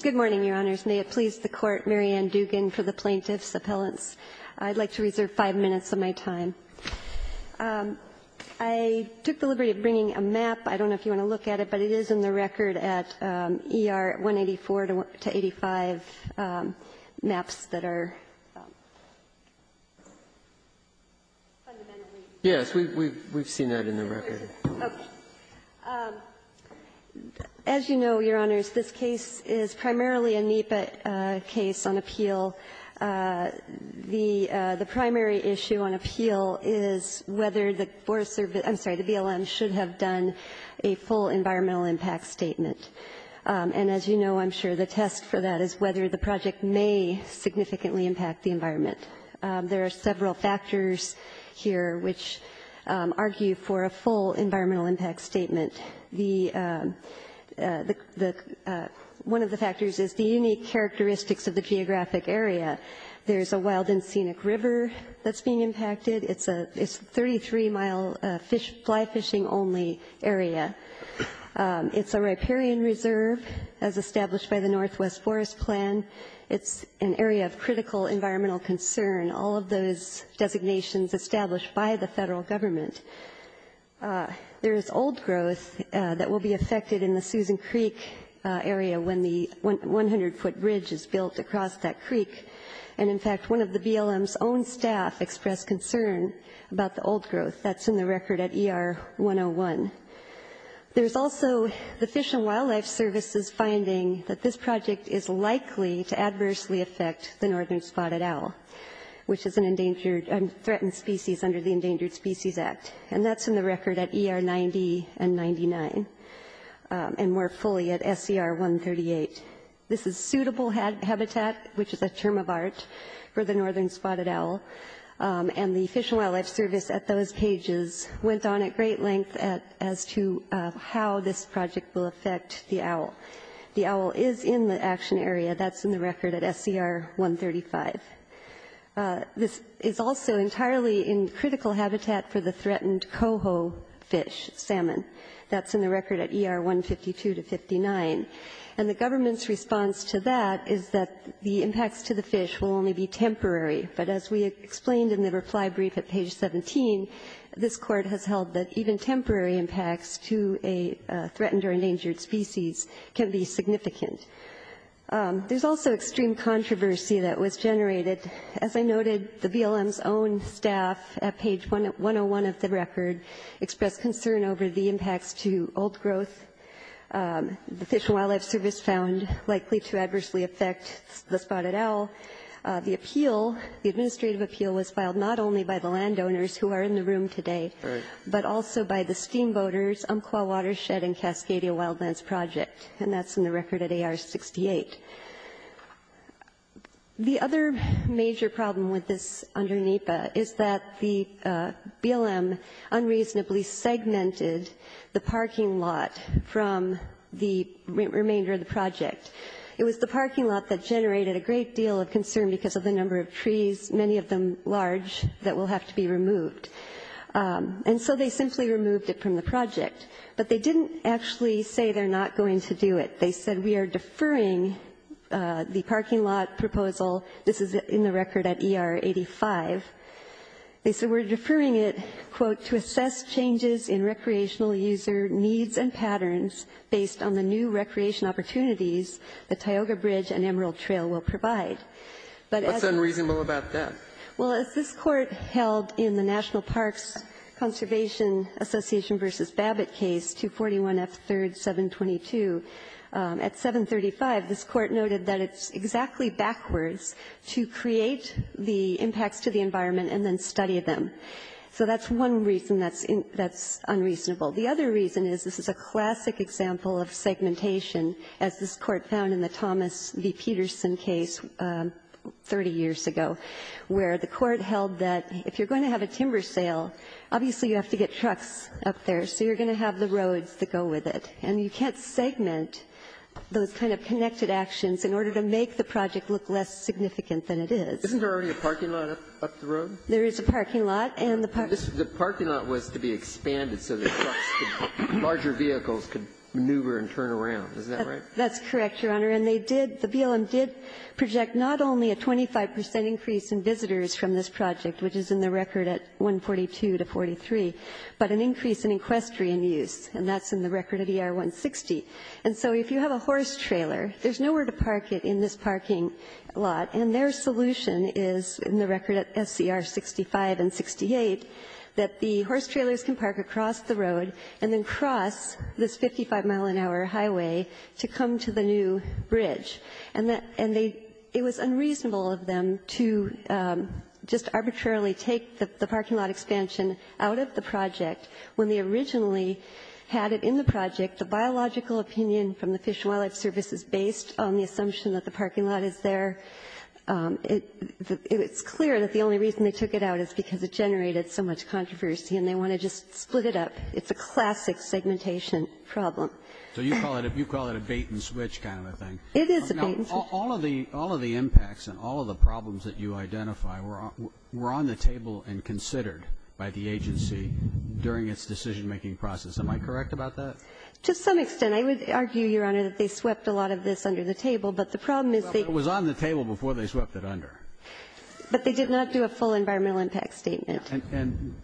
Good morning, Your Honors. May it please the Court, Mary Ann Dugan for the Plaintiff's Appellants. I'd like to reserve five minutes of my time. I took the liberty of bringing a map. I don't know if you want to look at it, but it is in the record at ER 184 to 85 maps that are fundamentally. Yes, we've seen that in the record. As you know, Your Honors, this case is primarily a NEPA case on appeal. The primary issue on appeal is whether the Forest Service — I'm sorry, the BLM should have done a full environmental impact statement. And as you know, I'm sure the test for that is whether the project may significantly impact the environment. There are several factors here which argue for a full environmental impact statement. One of the factors is the unique characteristics of the geographic area. There's a wild and scenic river that's being impacted. It's a 33-mile fly fishing only area. It's a riparian reserve, as established by the Northwest Forest Plan. It's an area of critical environmental concern. All of those designations established by the federal government. There is old growth that will be affected in the Susan Creek area when the 100-foot bridge is built across that creek. And in fact, one of the BLM's own staff expressed concern about the old growth. That's in the record at ER 101. There's also the Fish and Wildlife Service's finding that this project is likely to adversely affect the Northern Spotted Owl, which is an endangered — threatened species under the Endangered Species Act. And that's in the record at ER 90 and 99, and more fully at SCR 138. This is suitable habitat, which is a term of art for the Northern Spotted Owl. And the Fish and Wildlife Service, at those pages, went on at great length as to how this project will affect the owl. The owl is in the action area. That's in the record at SCR 135. This is also entirely in critical habitat for the threatened coho fish, salmon. That's in the record at ER 152 to 59. And the government's response to that is that the impacts to the fish will only be temporary. But as we explained in the reply brief at page 17, this Court has held that even temporary impacts to a threatened or endangered species can be significant. There's also extreme controversy that was generated. As I noted, the BLM's own staff at page 101 of the record expressed concern over the impacts to old growth, the Fish and Wildlife Service found likely to adversely affect the spotted owl. The appeal, the administrative appeal, was filed not only by the landowners who are in the room today, but also by the Steamboaters, Umpqua Watershed, and Cascadia Wildlands Project. And that's in the record at AR 68. The other major problem with this under NEPA is that the BLM unreasonably segmented the parking lot from the remainder of the project. It was the parking lot that generated a great deal of concern because of the number of trees, many of them large, that will have to be removed. And so they simply removed it from the project. But they didn't actually say they're not going to do it. They said we are deferring the parking lot proposal. This is in the record at ER 85. They said we're deferring it, quote, to assess changes in recreational user needs and patterns based on the new recreation opportunities the Tioga Bridge and Emerald Trail will provide. But as... What's unreasonable about that? Well, as this Court held in the National Parks Conservation Association v. Babbitt case, 241 F. 3rd, 722, at 735 this Court noted that it's exactly backwards to create the impacts to the environment and then study them. So that's one reason that's unreasonable. The other reason is this is a classic example of segmentation, as this Court found in the Thomas v. Peterson case 30 years ago, where the Court held that if you're going to have a timber sale, obviously you have to get trucks up there, so you're going to have the roads that go with it. And you can't segment those kind of connected actions in order to make the project look less significant than it is. Isn't there already a parking lot up the road? There is a parking lot. The parking lot was to be expanded so that larger vehicles could maneuver and turn around, is that right? That's correct, Your Honor. And the BLM did project not only a 25 percent increase in visitors from this project, which is in the record at 142 to 143, but an increase in equestrian use, and that's in the record at ER 160. And so if you have a horse trailer, there's nowhere to park it in this parking lot, and their solution is, in the record at SCR 65 and 68, that the horse trailers can park across the road and then cross this 55-mile-an-hour highway to come to the new bridge. And it was unreasonable of them to just arbitrarily take the parking lot expansion out of the project when they originally had it in the project. The biological opinion from the Fish and Wildlife Service is based on the assumption that the parking lot is there. It's clear that the only reason they took it out is because it generated so much controversy, and they want to just split it up. It's a classic segmentation problem. So you call it a bait-and-switch kind of a thing. It is a bait-and-switch. Now, all of the impacts and all of the problems that you identify were on the table and considered by the agency during its decision-making process. Am I correct about that? To some extent. I would argue, Your Honor, that they swept a lot of this under the table. But the problem is they It was on the table before they swept it under. But they did not do a full environmental impact statement. And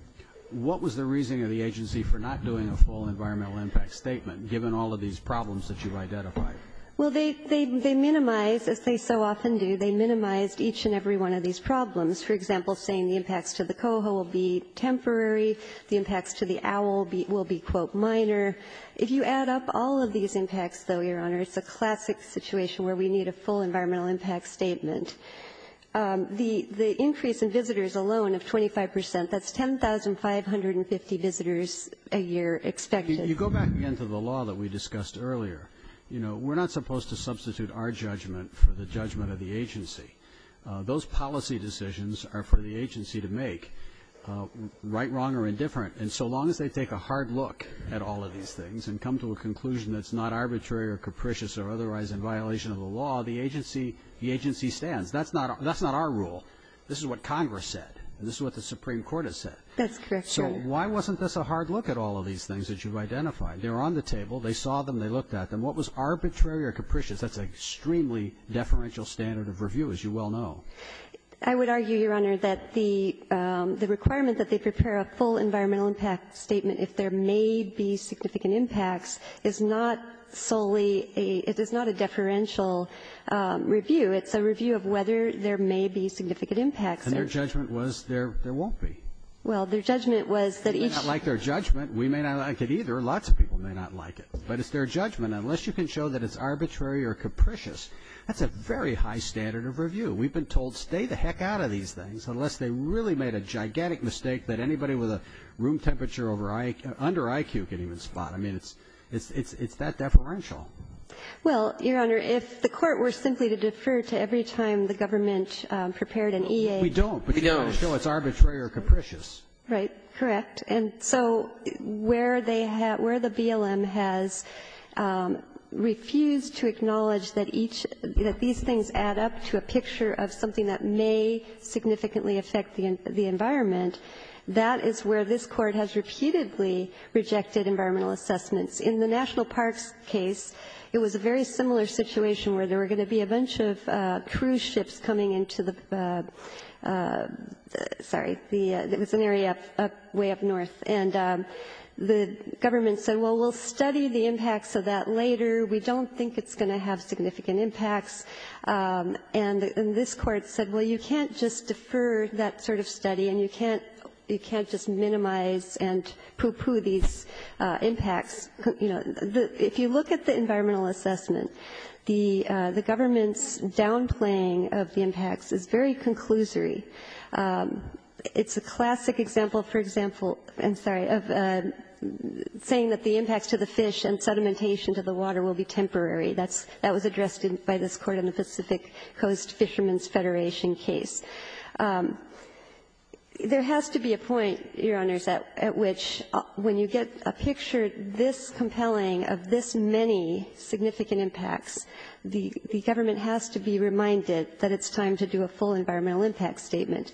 what was the reasoning of the agency for not doing a full environmental impact statement, given all of these problems that you've identified? Well, they minimized, as they so often do, they minimized each and every one of these problems. For example, saying the impacts to the coho will be temporary, the impacts to the owl will be, quote, minor. If you add up all of these impacts, though, Your Honor, it's a classic situation where we need a full environmental impact statement. The increase in visitors alone of 25 percent, that's 10,550 visitors a year expected. You go back again to the law that we discussed earlier. You know, we're not supposed to substitute our judgment for the judgment of the agency. Those policy decisions are for the agency to make, right, wrong, or indifferent. And so long as they take a hard look at all of these things and come to a conclusion that's not arbitrary or capricious or otherwise in violation of the law, the agency stands. That's not our rule. This is what Congress said. This is what the Supreme Court has said. That's correct, Your Honor. So why wasn't this a hard look at all of these things that you've identified? They were on the table. They saw them. They looked at them. What was arbitrary or capricious? That's an extremely deferential standard of review, as you well know. I would argue, Your Honor, that the requirement that they prepare a full environmental impact statement if there may be significant impacts is not solely a – it is not a deferential review. It's a review of whether there may be significant impacts. And their judgment was there won't be. Well, their judgment was that each – We may not like their judgment. We may not like it either. Lots of people may not like it. But it's their judgment. of review. We've been told stay the heck out of these things unless they really made a gigantic mistake that anybody with a room temperature over IQ – under IQ can even spot. I mean, it's that deferential. Well, Your Honor, if the Court were simply to defer to every time the government prepared an EA – We don't. We don't. No, it's arbitrary or capricious. Right. Correct. And so where they have – where the BLM has refused to acknowledge that each – that these things add up to a picture of something that may significantly affect the environment, that is where this Court has repeatedly rejected environmental assessments. In the National Parks case, it was a very similar situation where there were going to be a bunch of cruise ships coming into the – sorry, the – it was an area way up north. And the government said, well, we'll study the impacts of that later. We don't think it's going to have significant impacts. And this Court said, well, you can't just defer that sort of study and you can't – you can't just minimize and poo-poo these impacts. You know, if you look at the environmental assessment, the government's downplaying of the impacts is very conclusory. It's a classic example, for example – I'm sorry – of saying that the impacts to the fish and sedimentation to the water will be temporary. That's – that was addressed by this Court in the Pacific Coast Fishermen's Federation case. There has to be a point, Your Honors, at which when you get a picture this compelling of this many significant impacts, the government has to be reminded that it's time to do a full environmental impact statement.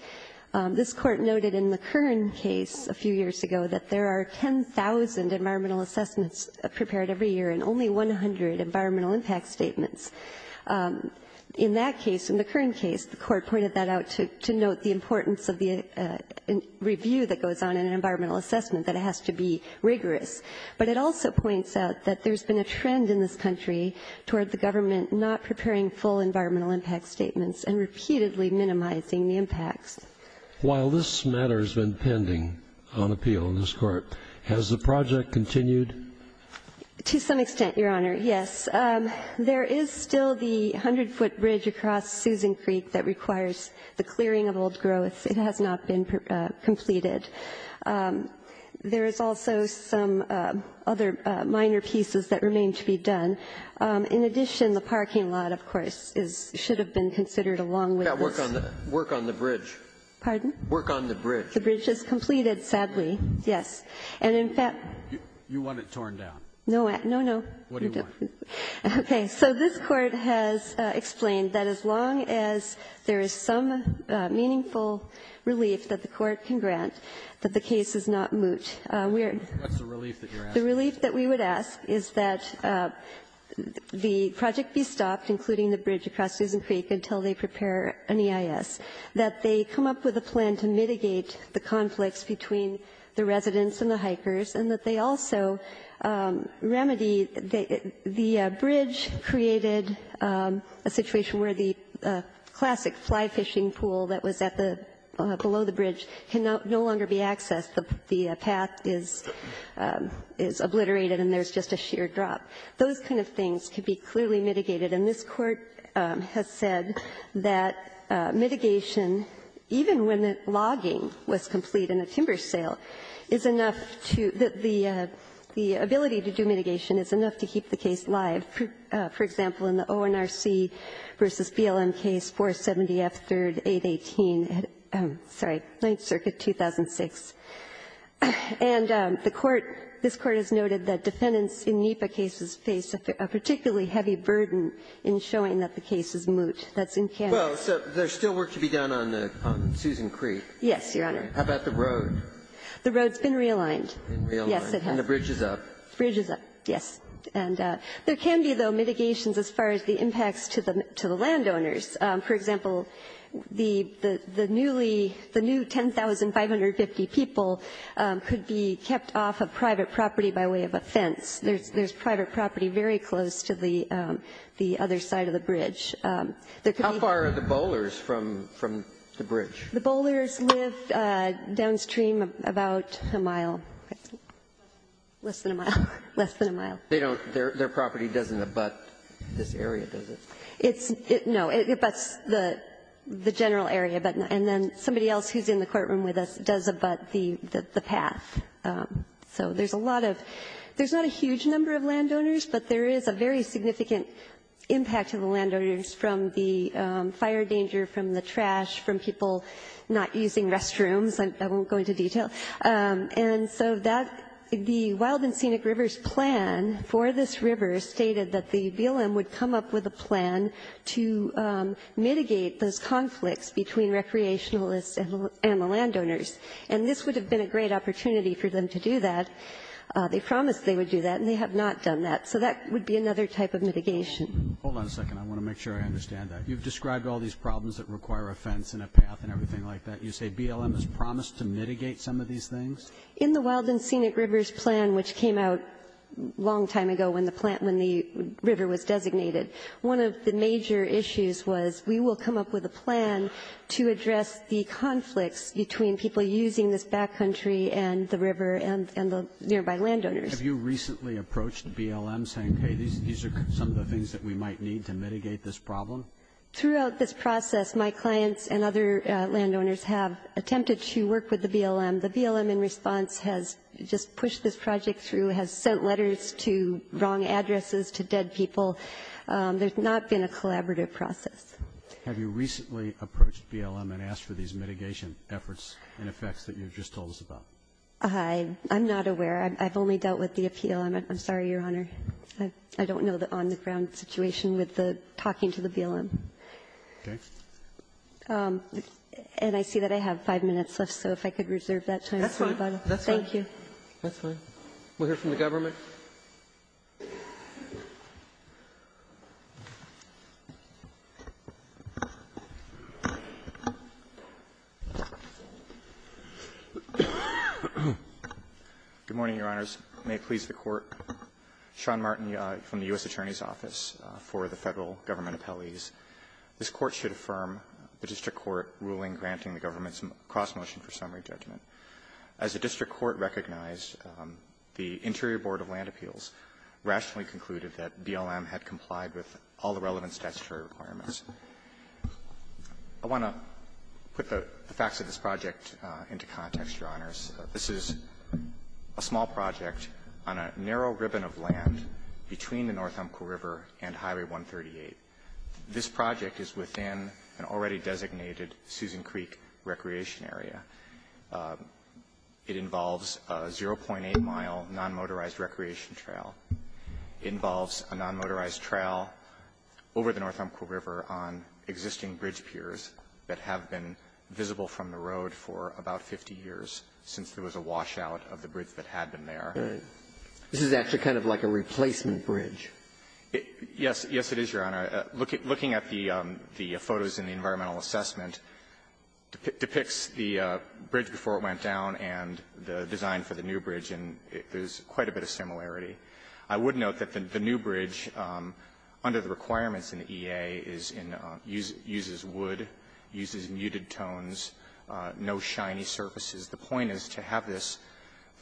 This Court noted in the Kern case a few years ago that there are 10,000 environmental assessments prepared every year and only 100 environmental impact statements. In that case, in the Kern case, the Court pointed that out to note the importance of the review that goes on in an environmental assessment, that it has to be rigorous. But it also points out that there's been a trend in this country toward the government not preparing full environmental impact statements and repeatedly minimizing the impacts. While this matter has been pending on appeal in this Court, has the project continued? To some extent, Your Honor, yes. There is still the 100-foot bridge across Susan Creek that requires the clearing of old growth. It has not been completed. There is also some other minor pieces that remain to be done. In addition, the parking lot, of course, should have been considered along with this. Work on the bridge. Pardon? Work on the bridge. The bridge is completed, sadly, yes. You want it torn down? No, no. What do you want? Okay. So this Court has explained that as long as there is some meaningful relief that the Court can grant, that the case is not moot. What's the relief that you're asking? The relief that we would ask is that the project be stopped, including the bridge across Susan Creek and EIS, that they come up with a plan to mitigate the conflicts between the residents and the hikers, and that they also remedy the bridge created a situation where the classic fly-fishing pool that was below the bridge can no longer be accessed. The path is obliterated and there's just a sheer drop. Those kind of things could be clearly mitigated. And this Court has said that mitigation, even when the logging was complete and the timber sale, is enough to the ability to do mitigation is enough to keep the case live. For example, in the ONRC v. BLM case, 470F, 3rd, 818, sorry, 9th Circuit, 2006. And the Court, this Court has noted that defendants in NEPA cases face a particularly heavy burden in showing that the case is moot. That's in Canada. Well, so there's still work to be done on Susan Creek. Yes, Your Honor. How about the road? The road's been realigned. Been realigned. Yes, it has. And the bridge is up. The bridge is up, yes. And there can be, though, mitigations as far as the impacts to the landowners. For example, the newly the new 10,550 people could be kept off of private property by way of a fence. There's private property very close to the other side of the bridge. How far are the bowlers from the bridge? The bowlers live downstream about a mile. Less than a mile. Less than a mile. Their property doesn't abut this area, does it? No. It abuts the general area. And then somebody else who's in the courtroom with us does abut the path. So there's a lot of, there's not a huge number of landowners, but there is a very significant impact to the landowners from the fire danger, from the trash, from people not using restrooms. I won't go into detail. And so that, the Wild and Scenic Rivers plan for this river stated that the BLM would come up with a plan to mitigate those conflicts between recreationalists and the landowners. And this would have been a great opportunity for them to do that. They promised they would do that, and they have not done that. So that would be another type of mitigation. Hold on a second. I want to make sure I understand that. You've described all these problems that require a fence and a path and everything like that. You say BLM has promised to mitigate some of these things? In the Wild and Scenic Rivers plan, which came out a long time ago one of the major issues was we will come up with a plan to address the conflicts between people using this backcountry and the river and the nearby landowners. Have you recently approached BLM saying, hey, these are some of the things that we might need to mitigate this problem? Throughout this process, my clients and other landowners have attempted to work with the BLM. The BLM, in response, has just pushed this project through, has sent letters to wrong addresses, to dead people. There's not been a collaborative process. Have you recently approached BLM and asked for these mitigation efforts and effects that you've just told us about? I'm not aware. I've only dealt with the appeal. I'm sorry, Your Honor. I don't know the on-the-ground situation with the talking to the BLM. Okay. And I see that I have five minutes left, so if I could reserve that time for anybody. That's fine. Thank you. That's fine. We'll hear from the government. Good morning, Your Honors. May it please the Court. Sean Martin from the U.S. Attorney's Office for the Federal Government Appellees. This Court should affirm the district court ruling granting the government's cross-motion for summary judgment. As the district court recognized, the Interior Board of Land Appeals rationally concluded that BLM had complied with all the relevant statutory requirements. I want to put the facts of this project into context, Your Honors. This is a small project on a narrow ribbon of land between the North Umpqua River and Highway 138. This project is within an already designated Susan Creek Recreation Area. It involves a 0.8-mile non-motorized recreation trail. It involves a non-motorized trail over the North Umpqua River on existing bridge piers that have been visible from the road for about 50 years since there was a washout of the bridge that had been there. This is actually kind of like a replacement bridge. Yes. Yes, it is, Your Honor. Looking at the photos in the environmental assessment depicts the bridge before it went down and the design for the new bridge, and there's quite a bit of similarity. I would note that the new bridge, under the requirements in the EA, is in the uses wood, uses muted tones, no shiny surfaces. The point is to have this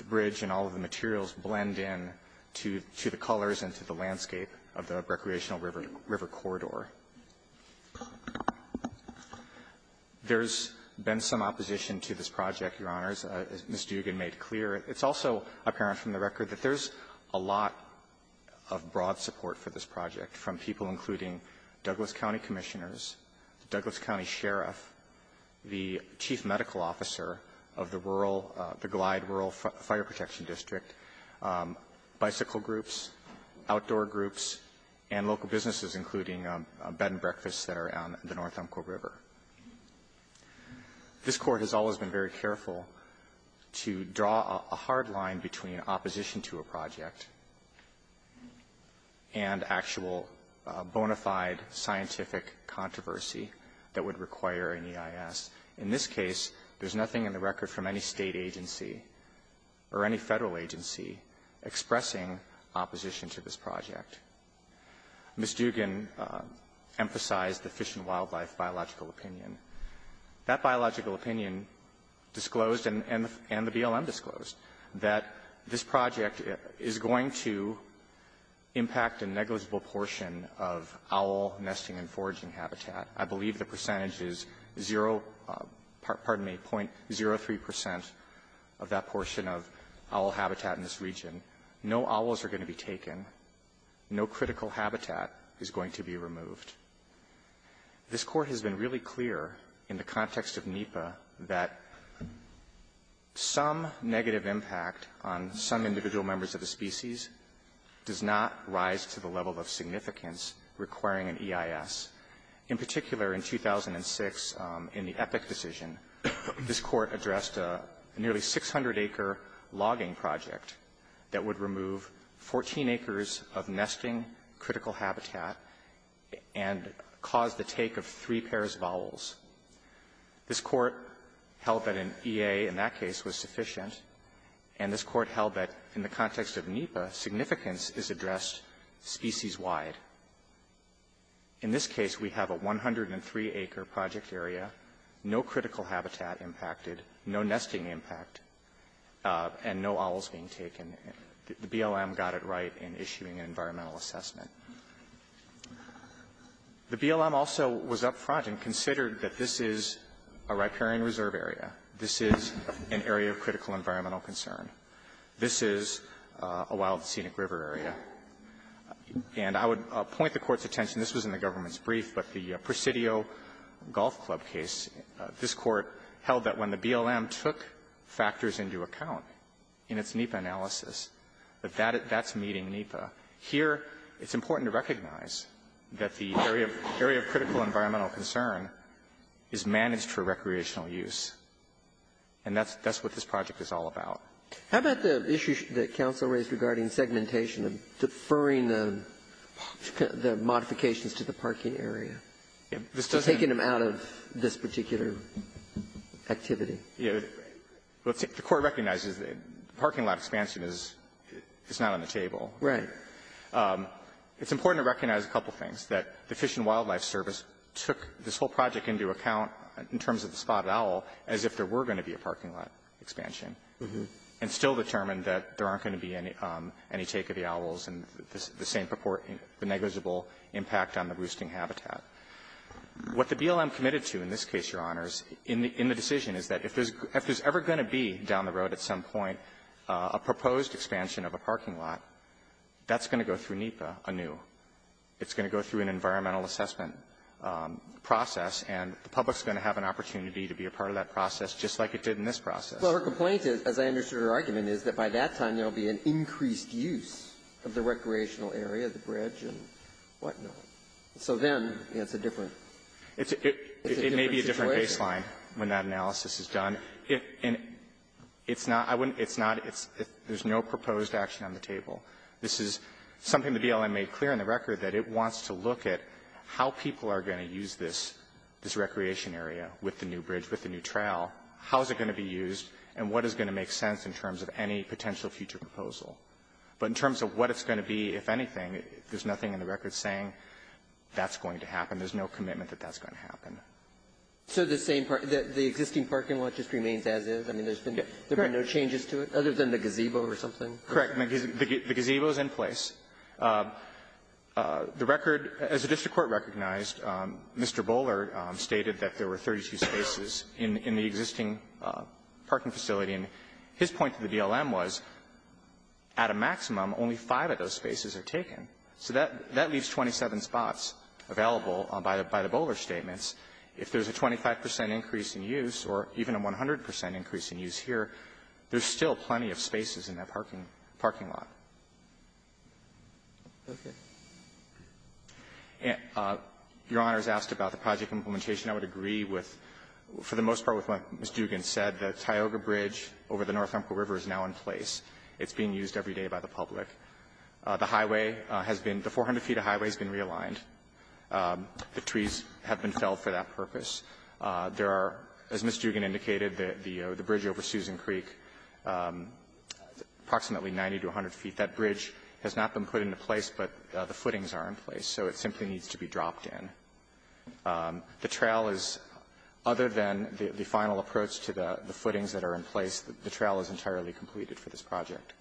bridge and all of the materials blend in to the colors and to the landscape of the recreational river corridor. There's been some opposition to this project, Your Honors, as Ms. Dugan made clear. It's also apparent from the record that there's a lot of broad support for this project from people including Douglas County Commissioners, the Douglas County Sheriff, the Chief Medical Officer of the rural, the Glide Rural Fire Protection District, bicycle groups, outdoor groups, and local businesses, including a bed and breakfast that are on the North Umpqua River. This Court has always been very careful to draw a hard line between opposition to a project and actual bona fide scientific controversy that would require an EIS. In this case, there's nothing in the record from any State agency or any Federal agency expressing opposition to this project. Ms. Dugan emphasized the Fish and Wildlife biological opinion. That biological opinion disclosed and the BLM disclosed that this project is going to impact a negligible portion of owl nesting and foraging habitat. I believe the percentage is 0, pardon me, 0.03 percent of that portion of owl habitat in this region. No owls are going to be taken. No critical habitat is going to be removed. This Court has been really clear in the context of NEPA that some negative impact on some individual members of the species does not rise to the level of significance requiring an EIS. In particular, in 2006, in the Epic decision, this Court addressed a nearly 600 acre logging project that would remove 14 acres of nesting critical habitat and cause the take of three pairs of owls. This Court held that an EA in that case was sufficient, and this Court held that in the context of NEPA, significance is addressed species-wide. In this case, we have a 103-acre project area, no critical habitat impacted, no nesting impact, and no owls being taken. The BLM got it right in issuing an environmental assessment. The BLM also was up front and considered that this is a riparian reserve area. This is an area of critical environmental concern. This is a wild scenic river area. And I would point the Court's attention. This was in the government's brief, but the Presidio Golf Club case, this Court held that when the BLM took factors into account in its NEPA analysis, that that's meeting NEPA. Here, it's important to recognize that the area of critical environmental concern is managed for recreational use, and that's what this project is all about. How about the issue that counsel raised regarding segmentation, deferring the modifications to the parking area, taking them out of this particular activity? The Court recognizes the parking lot expansion is not on the table. Right. It's important to recognize a couple of things, that the Fish and Wildlife Service took this whole project into account in terms of the spotted owl as if there were going to be a parking lot expansion, and still determined that there aren't going to be any take of the owls and the same negligible impact on the roosting habitat. What the BLM committed to in this case, Your Honors, in the decision, is that if there's ever going to be down the road at some point a proposed expansion of a parking lot, that's going to go through NEPA anew. It's going to go through an environmental assessment process, and the public is going to have an opportunity to be a part of that process just like it did in this process. Well, her complaint is, as I understood her argument, is that by that time there will be an increased use of the recreational area, the bridge, and whatnot. So then it's a different situation. It may be a different baseline when that analysis is done. It's not – I wouldn't – it's not – there's no proposed action on the table. This is something the BLM made clear on the record, that it wants to look at how people are going to use this, this recreation area with the new bridge, with the new trowel. How is it going to be used, and what is going to make sense in terms of any potential future proposal? But in terms of what it's going to be, if anything, there's nothing in the record saying that's going to happen. There's no commitment that that's going to happen. So the same – the existing parking lot just remains as is? I mean, there's been no changes to it? Correct. Other than the gazebo or something? Correct. The gazebo is in place. The record, as the district court recognized, Mr. Bowler stated that there were 32 spaces in the existing parking facility. And his point to the BLM was at a maximum, only five of those spaces are taken. So that leaves 27 spots available by the Bowler statements. If there's a 25 percent increase in use or even a 100 percent increase in use here, there's still plenty of spaces in that parking lot. Okay. Your Honor has asked about the project implementation. I would agree with – for the most part with what Ms. Dugan said. The Tioga Bridge over the North Umpqua River is now in place. It's being used every day by the public. The highway has been – the 400 feet of highway has been realigned. The trees have been felled for that purpose. There are, as Ms. Dugan indicated, the bridge over Susan Creek, approximately 90 to 100 feet. That bridge has not been put into place, but the footings are in place. So it simply needs to be dropped in. The trail is, other than the final approach to the footings that are in place, the trail is entirely completed for this project.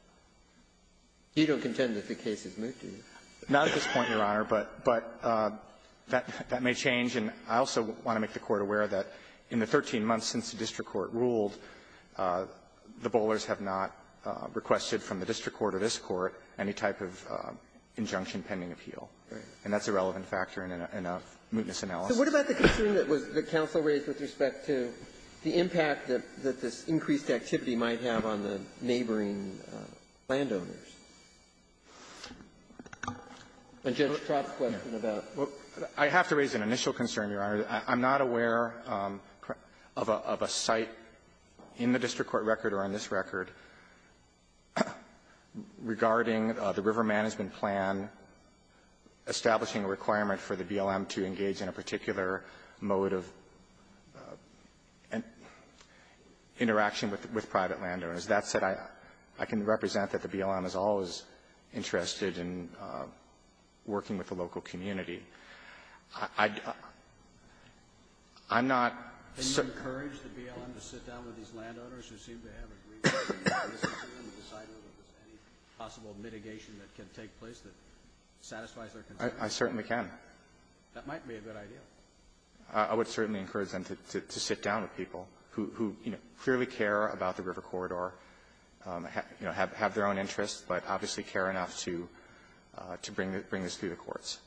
You don't contend that the case is moved, do you? Not at this point, Your Honor, but that may change. And I also want to make the Court aware that in the 13 months since the district court ruled, the Bowlers have not requested from the district court or this court any type of injunction pending appeal. Right. And that's a relevant factor in a – in a mootness analysis. So what about the concern that was – that counsel raised with respect to the impact that – that this increased activity might have on the neighboring landowners? And Judge Trott's question about what – I have to raise an initial concern, Your Honor. I'm not aware of a – of a site in the district court record or on this record regarding the river management plan establishing a requirement for the BLM to engage in a particular mode of interaction with – with private landowners. That said, I can represent that the BLM is always interested in working with the local I'm not so – Can you encourage the BLM to sit down with these landowners who seem to have a grievance concern on the decidement of any possible mitigation that can take place that satisfies their concerns? I certainly can. That might be a good idea. I would certainly encourage them to sit down with people who – who clearly care about the river corridor, have their own interests, but obviously care enough to bring this through the courts.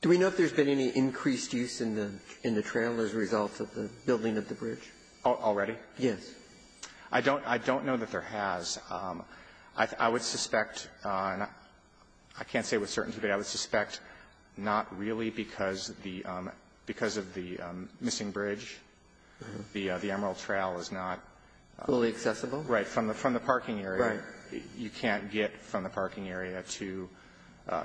Do we know if there's been any increased use in the – in the trail as a result of the building of the bridge? Already? Yes. I don't – I don't know that there has. I would suspect – I can't say with certainty, but I would suspect not really because the – because of the missing bridge, the Emerald Trail is not – Fully accessible? Right. From the – from the parking area. Right. You can't get from the parking area to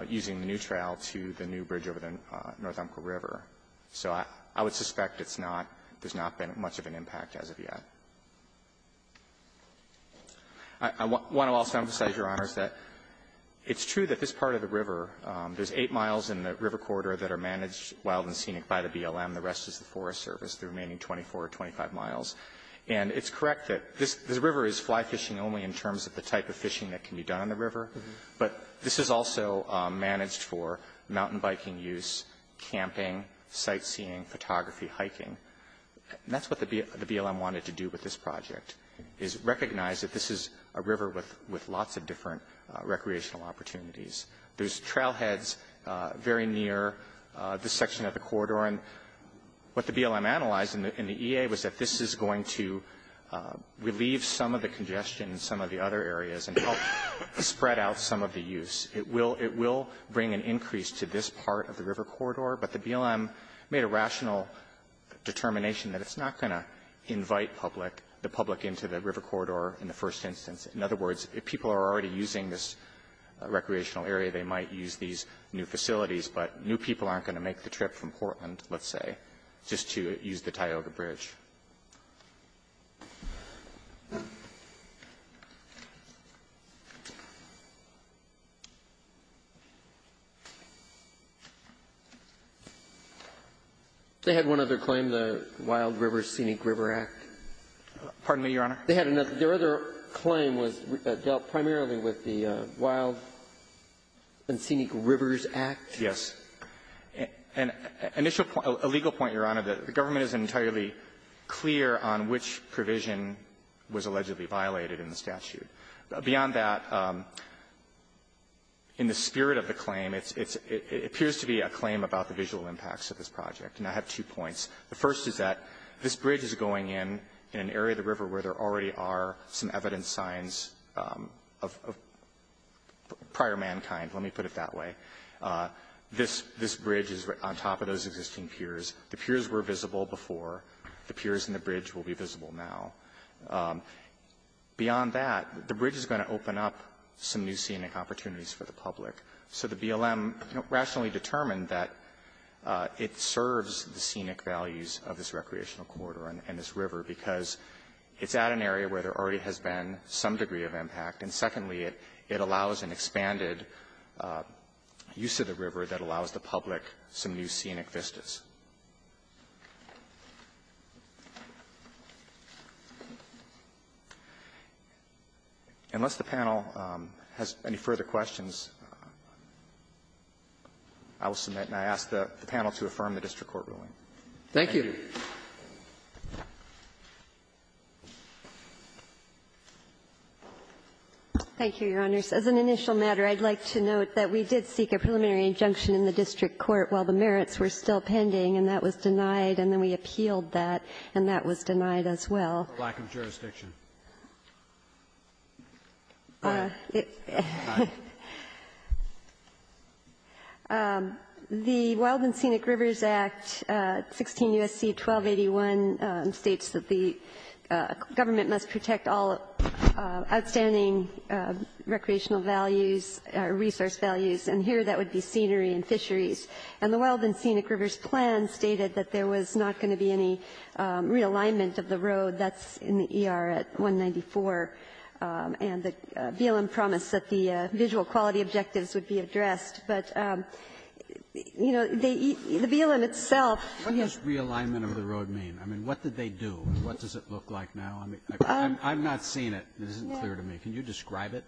using the new trail to the new bridge over the North Umpqua River. So I would suspect it's not – there's not been much of an impact as of yet. I want to also emphasize, Your Honors, that it's true that this part of the river, there's eight miles in the river corridor that are managed wild and scenic by the BLM. The rest is the Forest Service, the remaining 24 or 25 miles. And it's correct that this – this river is fly fishing only in terms of the type of fishing that can be done on the river. But this is also managed for mountain biking use, camping, sightseeing, photography, hiking. That's what the BLM wanted to do with this project, is recognize that this is a river with lots of different recreational opportunities. There's trailheads very near this section of the corridor. And what the BLM analyzed in the EA was that this is going to relieve some of the congestion in some of the other areas and help spread out some of the use. It will – it will bring an increase to this part of the river corridor. But the BLM made a rational determination that it's not going to invite public – the public into the river corridor in the first instance. In other words, if people are already using this recreational area, they might use these new facilities. But new people aren't going to make the trip from Portland, let's say, just to use the Tioga Bridge. They had one other claim, the Wild Rivers, Scenic Rivers Act. Pardon me, Your Honor? They had another – their other claim was dealt primarily with the Wild and Scenic Rivers Act. Yes. An initial point – a legal point, Your Honor, that the government isn't entirely clear on which provision was allegedly violated in the statute. Beyond that, in the spirit of the claim, it's – it appears to be a claim about the visual impacts of this project. And I have two points. The first is that this bridge is going in in an area of the river where there already are some evidence signs of prior mankind. Let me put it that way. This – this bridge is on top of those existing piers. The piers were visible before. The piers and the bridge will be visible now. Beyond that, the bridge is going to open up some new scenic opportunities for the public. So the BLM, you know, rationally determined that it serves the scenic values of this recreational corridor and this river, because it's at an area where there already has been some degree of impact, and secondly, it allows an expanded use of the river that allows the public some new scenic vistas. I will submit, and I ask the panel to affirm the district court ruling. Thank you. Thank you, Your Honors. As an initial matter, I'd like to note that we did seek a preliminary injunction in the district court while the merits were still pending, and that was denied, and then we appealed that, and that was denied as well. Lack of jurisdiction. The Wild and Scenic Rivers Act, 16 U.S.C. 1281, states that the government must protect all outstanding recreational values, resource values, and here that would be scenery and fisheries. And the Wild and Scenic Rivers Plan stated that there was not going to be any realignment of the road. That's in the ER at 194, and the BLM promised that the visual quality objectives would be addressed. But, you know, the BLM itself ---- What does realignment of the road mean? I mean, what did they do? What does it look like now? I mean, I'm not seeing it. It isn't clear to me. Can you describe it?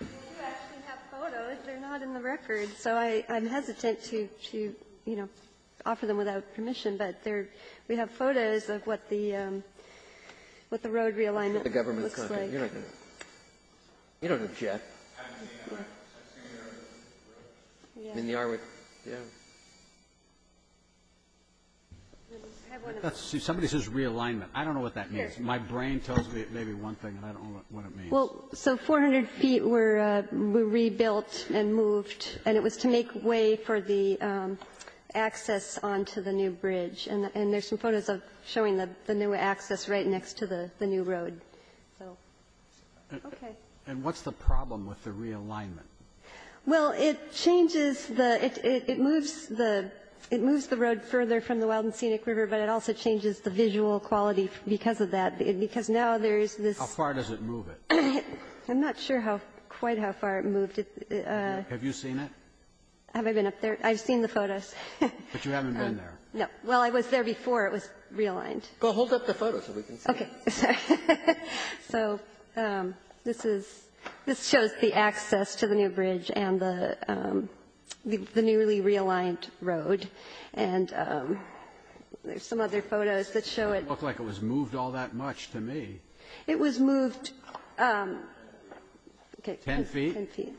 We do actually have photos. They're not in the record, so I'm hesitant to, you know, offer them without permission, but we have photos of what the road realignment looks like. You don't have to. You don't have to, Jeff. I've seen it on the road. In the ER with ---- Yeah. Somebody says realignment. I don't know what that means. My brain tells me it may be one thing, and I don't know what it means. Well, so 400 feet were rebuilt and moved, and it was to make way for the access onto the new bridge. And there's some photos of showing the new access right next to the new road. So, okay. And what's the problem with the realignment? Well, it changes the ---- it moves the road further from the Wild and Scenic River, but it also changes the visual quality because of that, because now there's this ---- How far does it move it? I'm not sure how quite how far it moved it. Have you seen it? Have I been up there? I've seen the photos. But you haven't been there. No. Well, I was there before it was realigned. Go hold up the photos so we can see it. Okay. Sorry. So this is ---- this shows the access to the new bridge and the newly realigned road. And there's some other photos that show it. It looked like it was moved all that much to me. It was moved ---- Ten feet? Ten feet.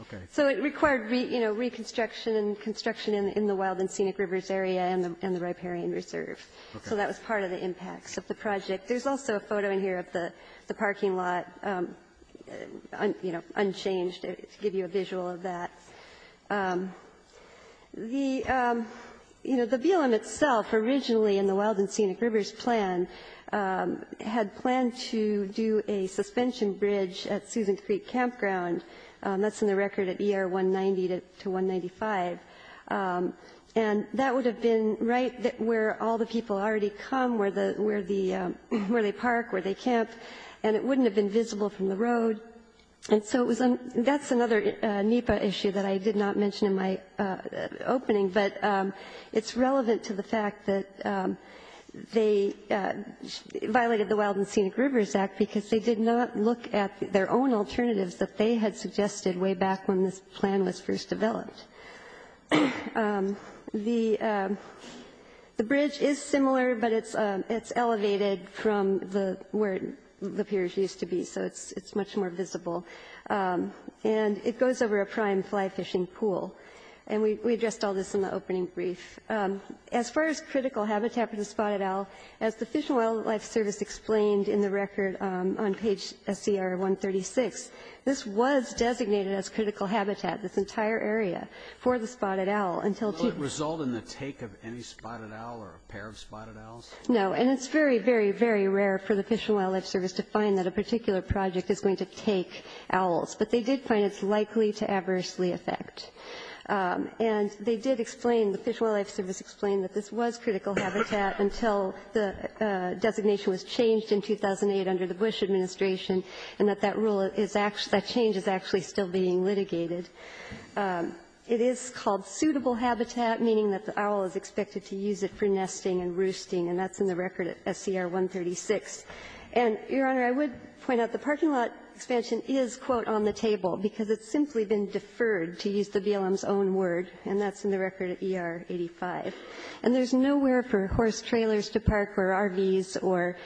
Okay. So it required, you know, reconstruction and construction in the Wild and Scenic River's area and the riparian reserve. Okay. So that was part of the impacts of the project. There's also a photo in here of the parking lot, you know, unchanged to give you a visual of that. The, you know, the BLM itself originally in the Wild and Scenic River's plan had planned to do a suspension bridge at Susan Creek Campground. That's in the record at ER 190 to 195. And that would have been right where all the people already come, where they park, where they camp, and it wouldn't have been visible from the road. And so that's another NEPA issue that I did not mention in my opening. But it's relevant to the fact that they violated the Wild and Scenic River's Act because they did not look at their own alternatives that they had suggested way back when this plan was first developed. The bridge is similar, but it's elevated from where the piers used to be, so it's much more visible. And it goes over a prime fly fishing pool. And we addressed all this in the opening brief. As far as critical habitat for the spotted owl, as the Fish and Wildlife Service explained in the record on page SCR 136, this was designated as critical habitat, this entire area, for the spotted owl until Will it result in the take of any spotted owl or a pair of spotted owls? No. And it's very, very, very rare for the Fish and Wildlife Service to find that a particular project is going to take owls. But they did find it's likely to adversely affect. And they did explain, the Fish and Wildlife Service explained that this was critical habitat until the designation was changed in 2008 under the Bush administration, and that that rule is actually, that change is actually still being litigated. It is called suitable habitat, meaning that the owl is expected to use it for nesting and roosting, and that's in the record at SCR 136. And, Your Honor, I would point out the parking lot expansion is, quote, on the table because it's simply been deferred, to use the BLM's own word, and that's in the record at ER 85. And there's nowhere for horse trailers to park or RVs or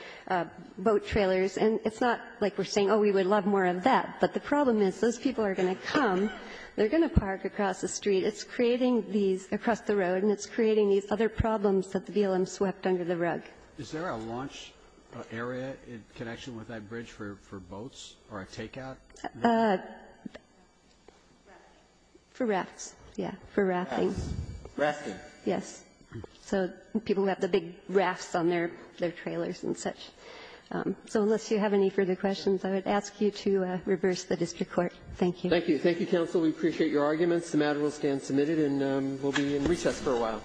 boat trailers. And it's not like we're saying, oh, we would love more of that. But the problem is, those people are going to come, they're going to park across the street. It's creating these across the road, and it's creating these other problems that the BLM swept under the rug. Is there a launch area in connection with that bridge for boats or a takeout? For rafts. Yeah, for rafting. Rafting. Yes. So people have the big rafts on their trailers and such. So unless you have any further questions, I would ask you to reverse the district court. Thank you. Thank you. Thank you, counsel. We appreciate your arguments. The matter will stand submitted and will be in recess for a while.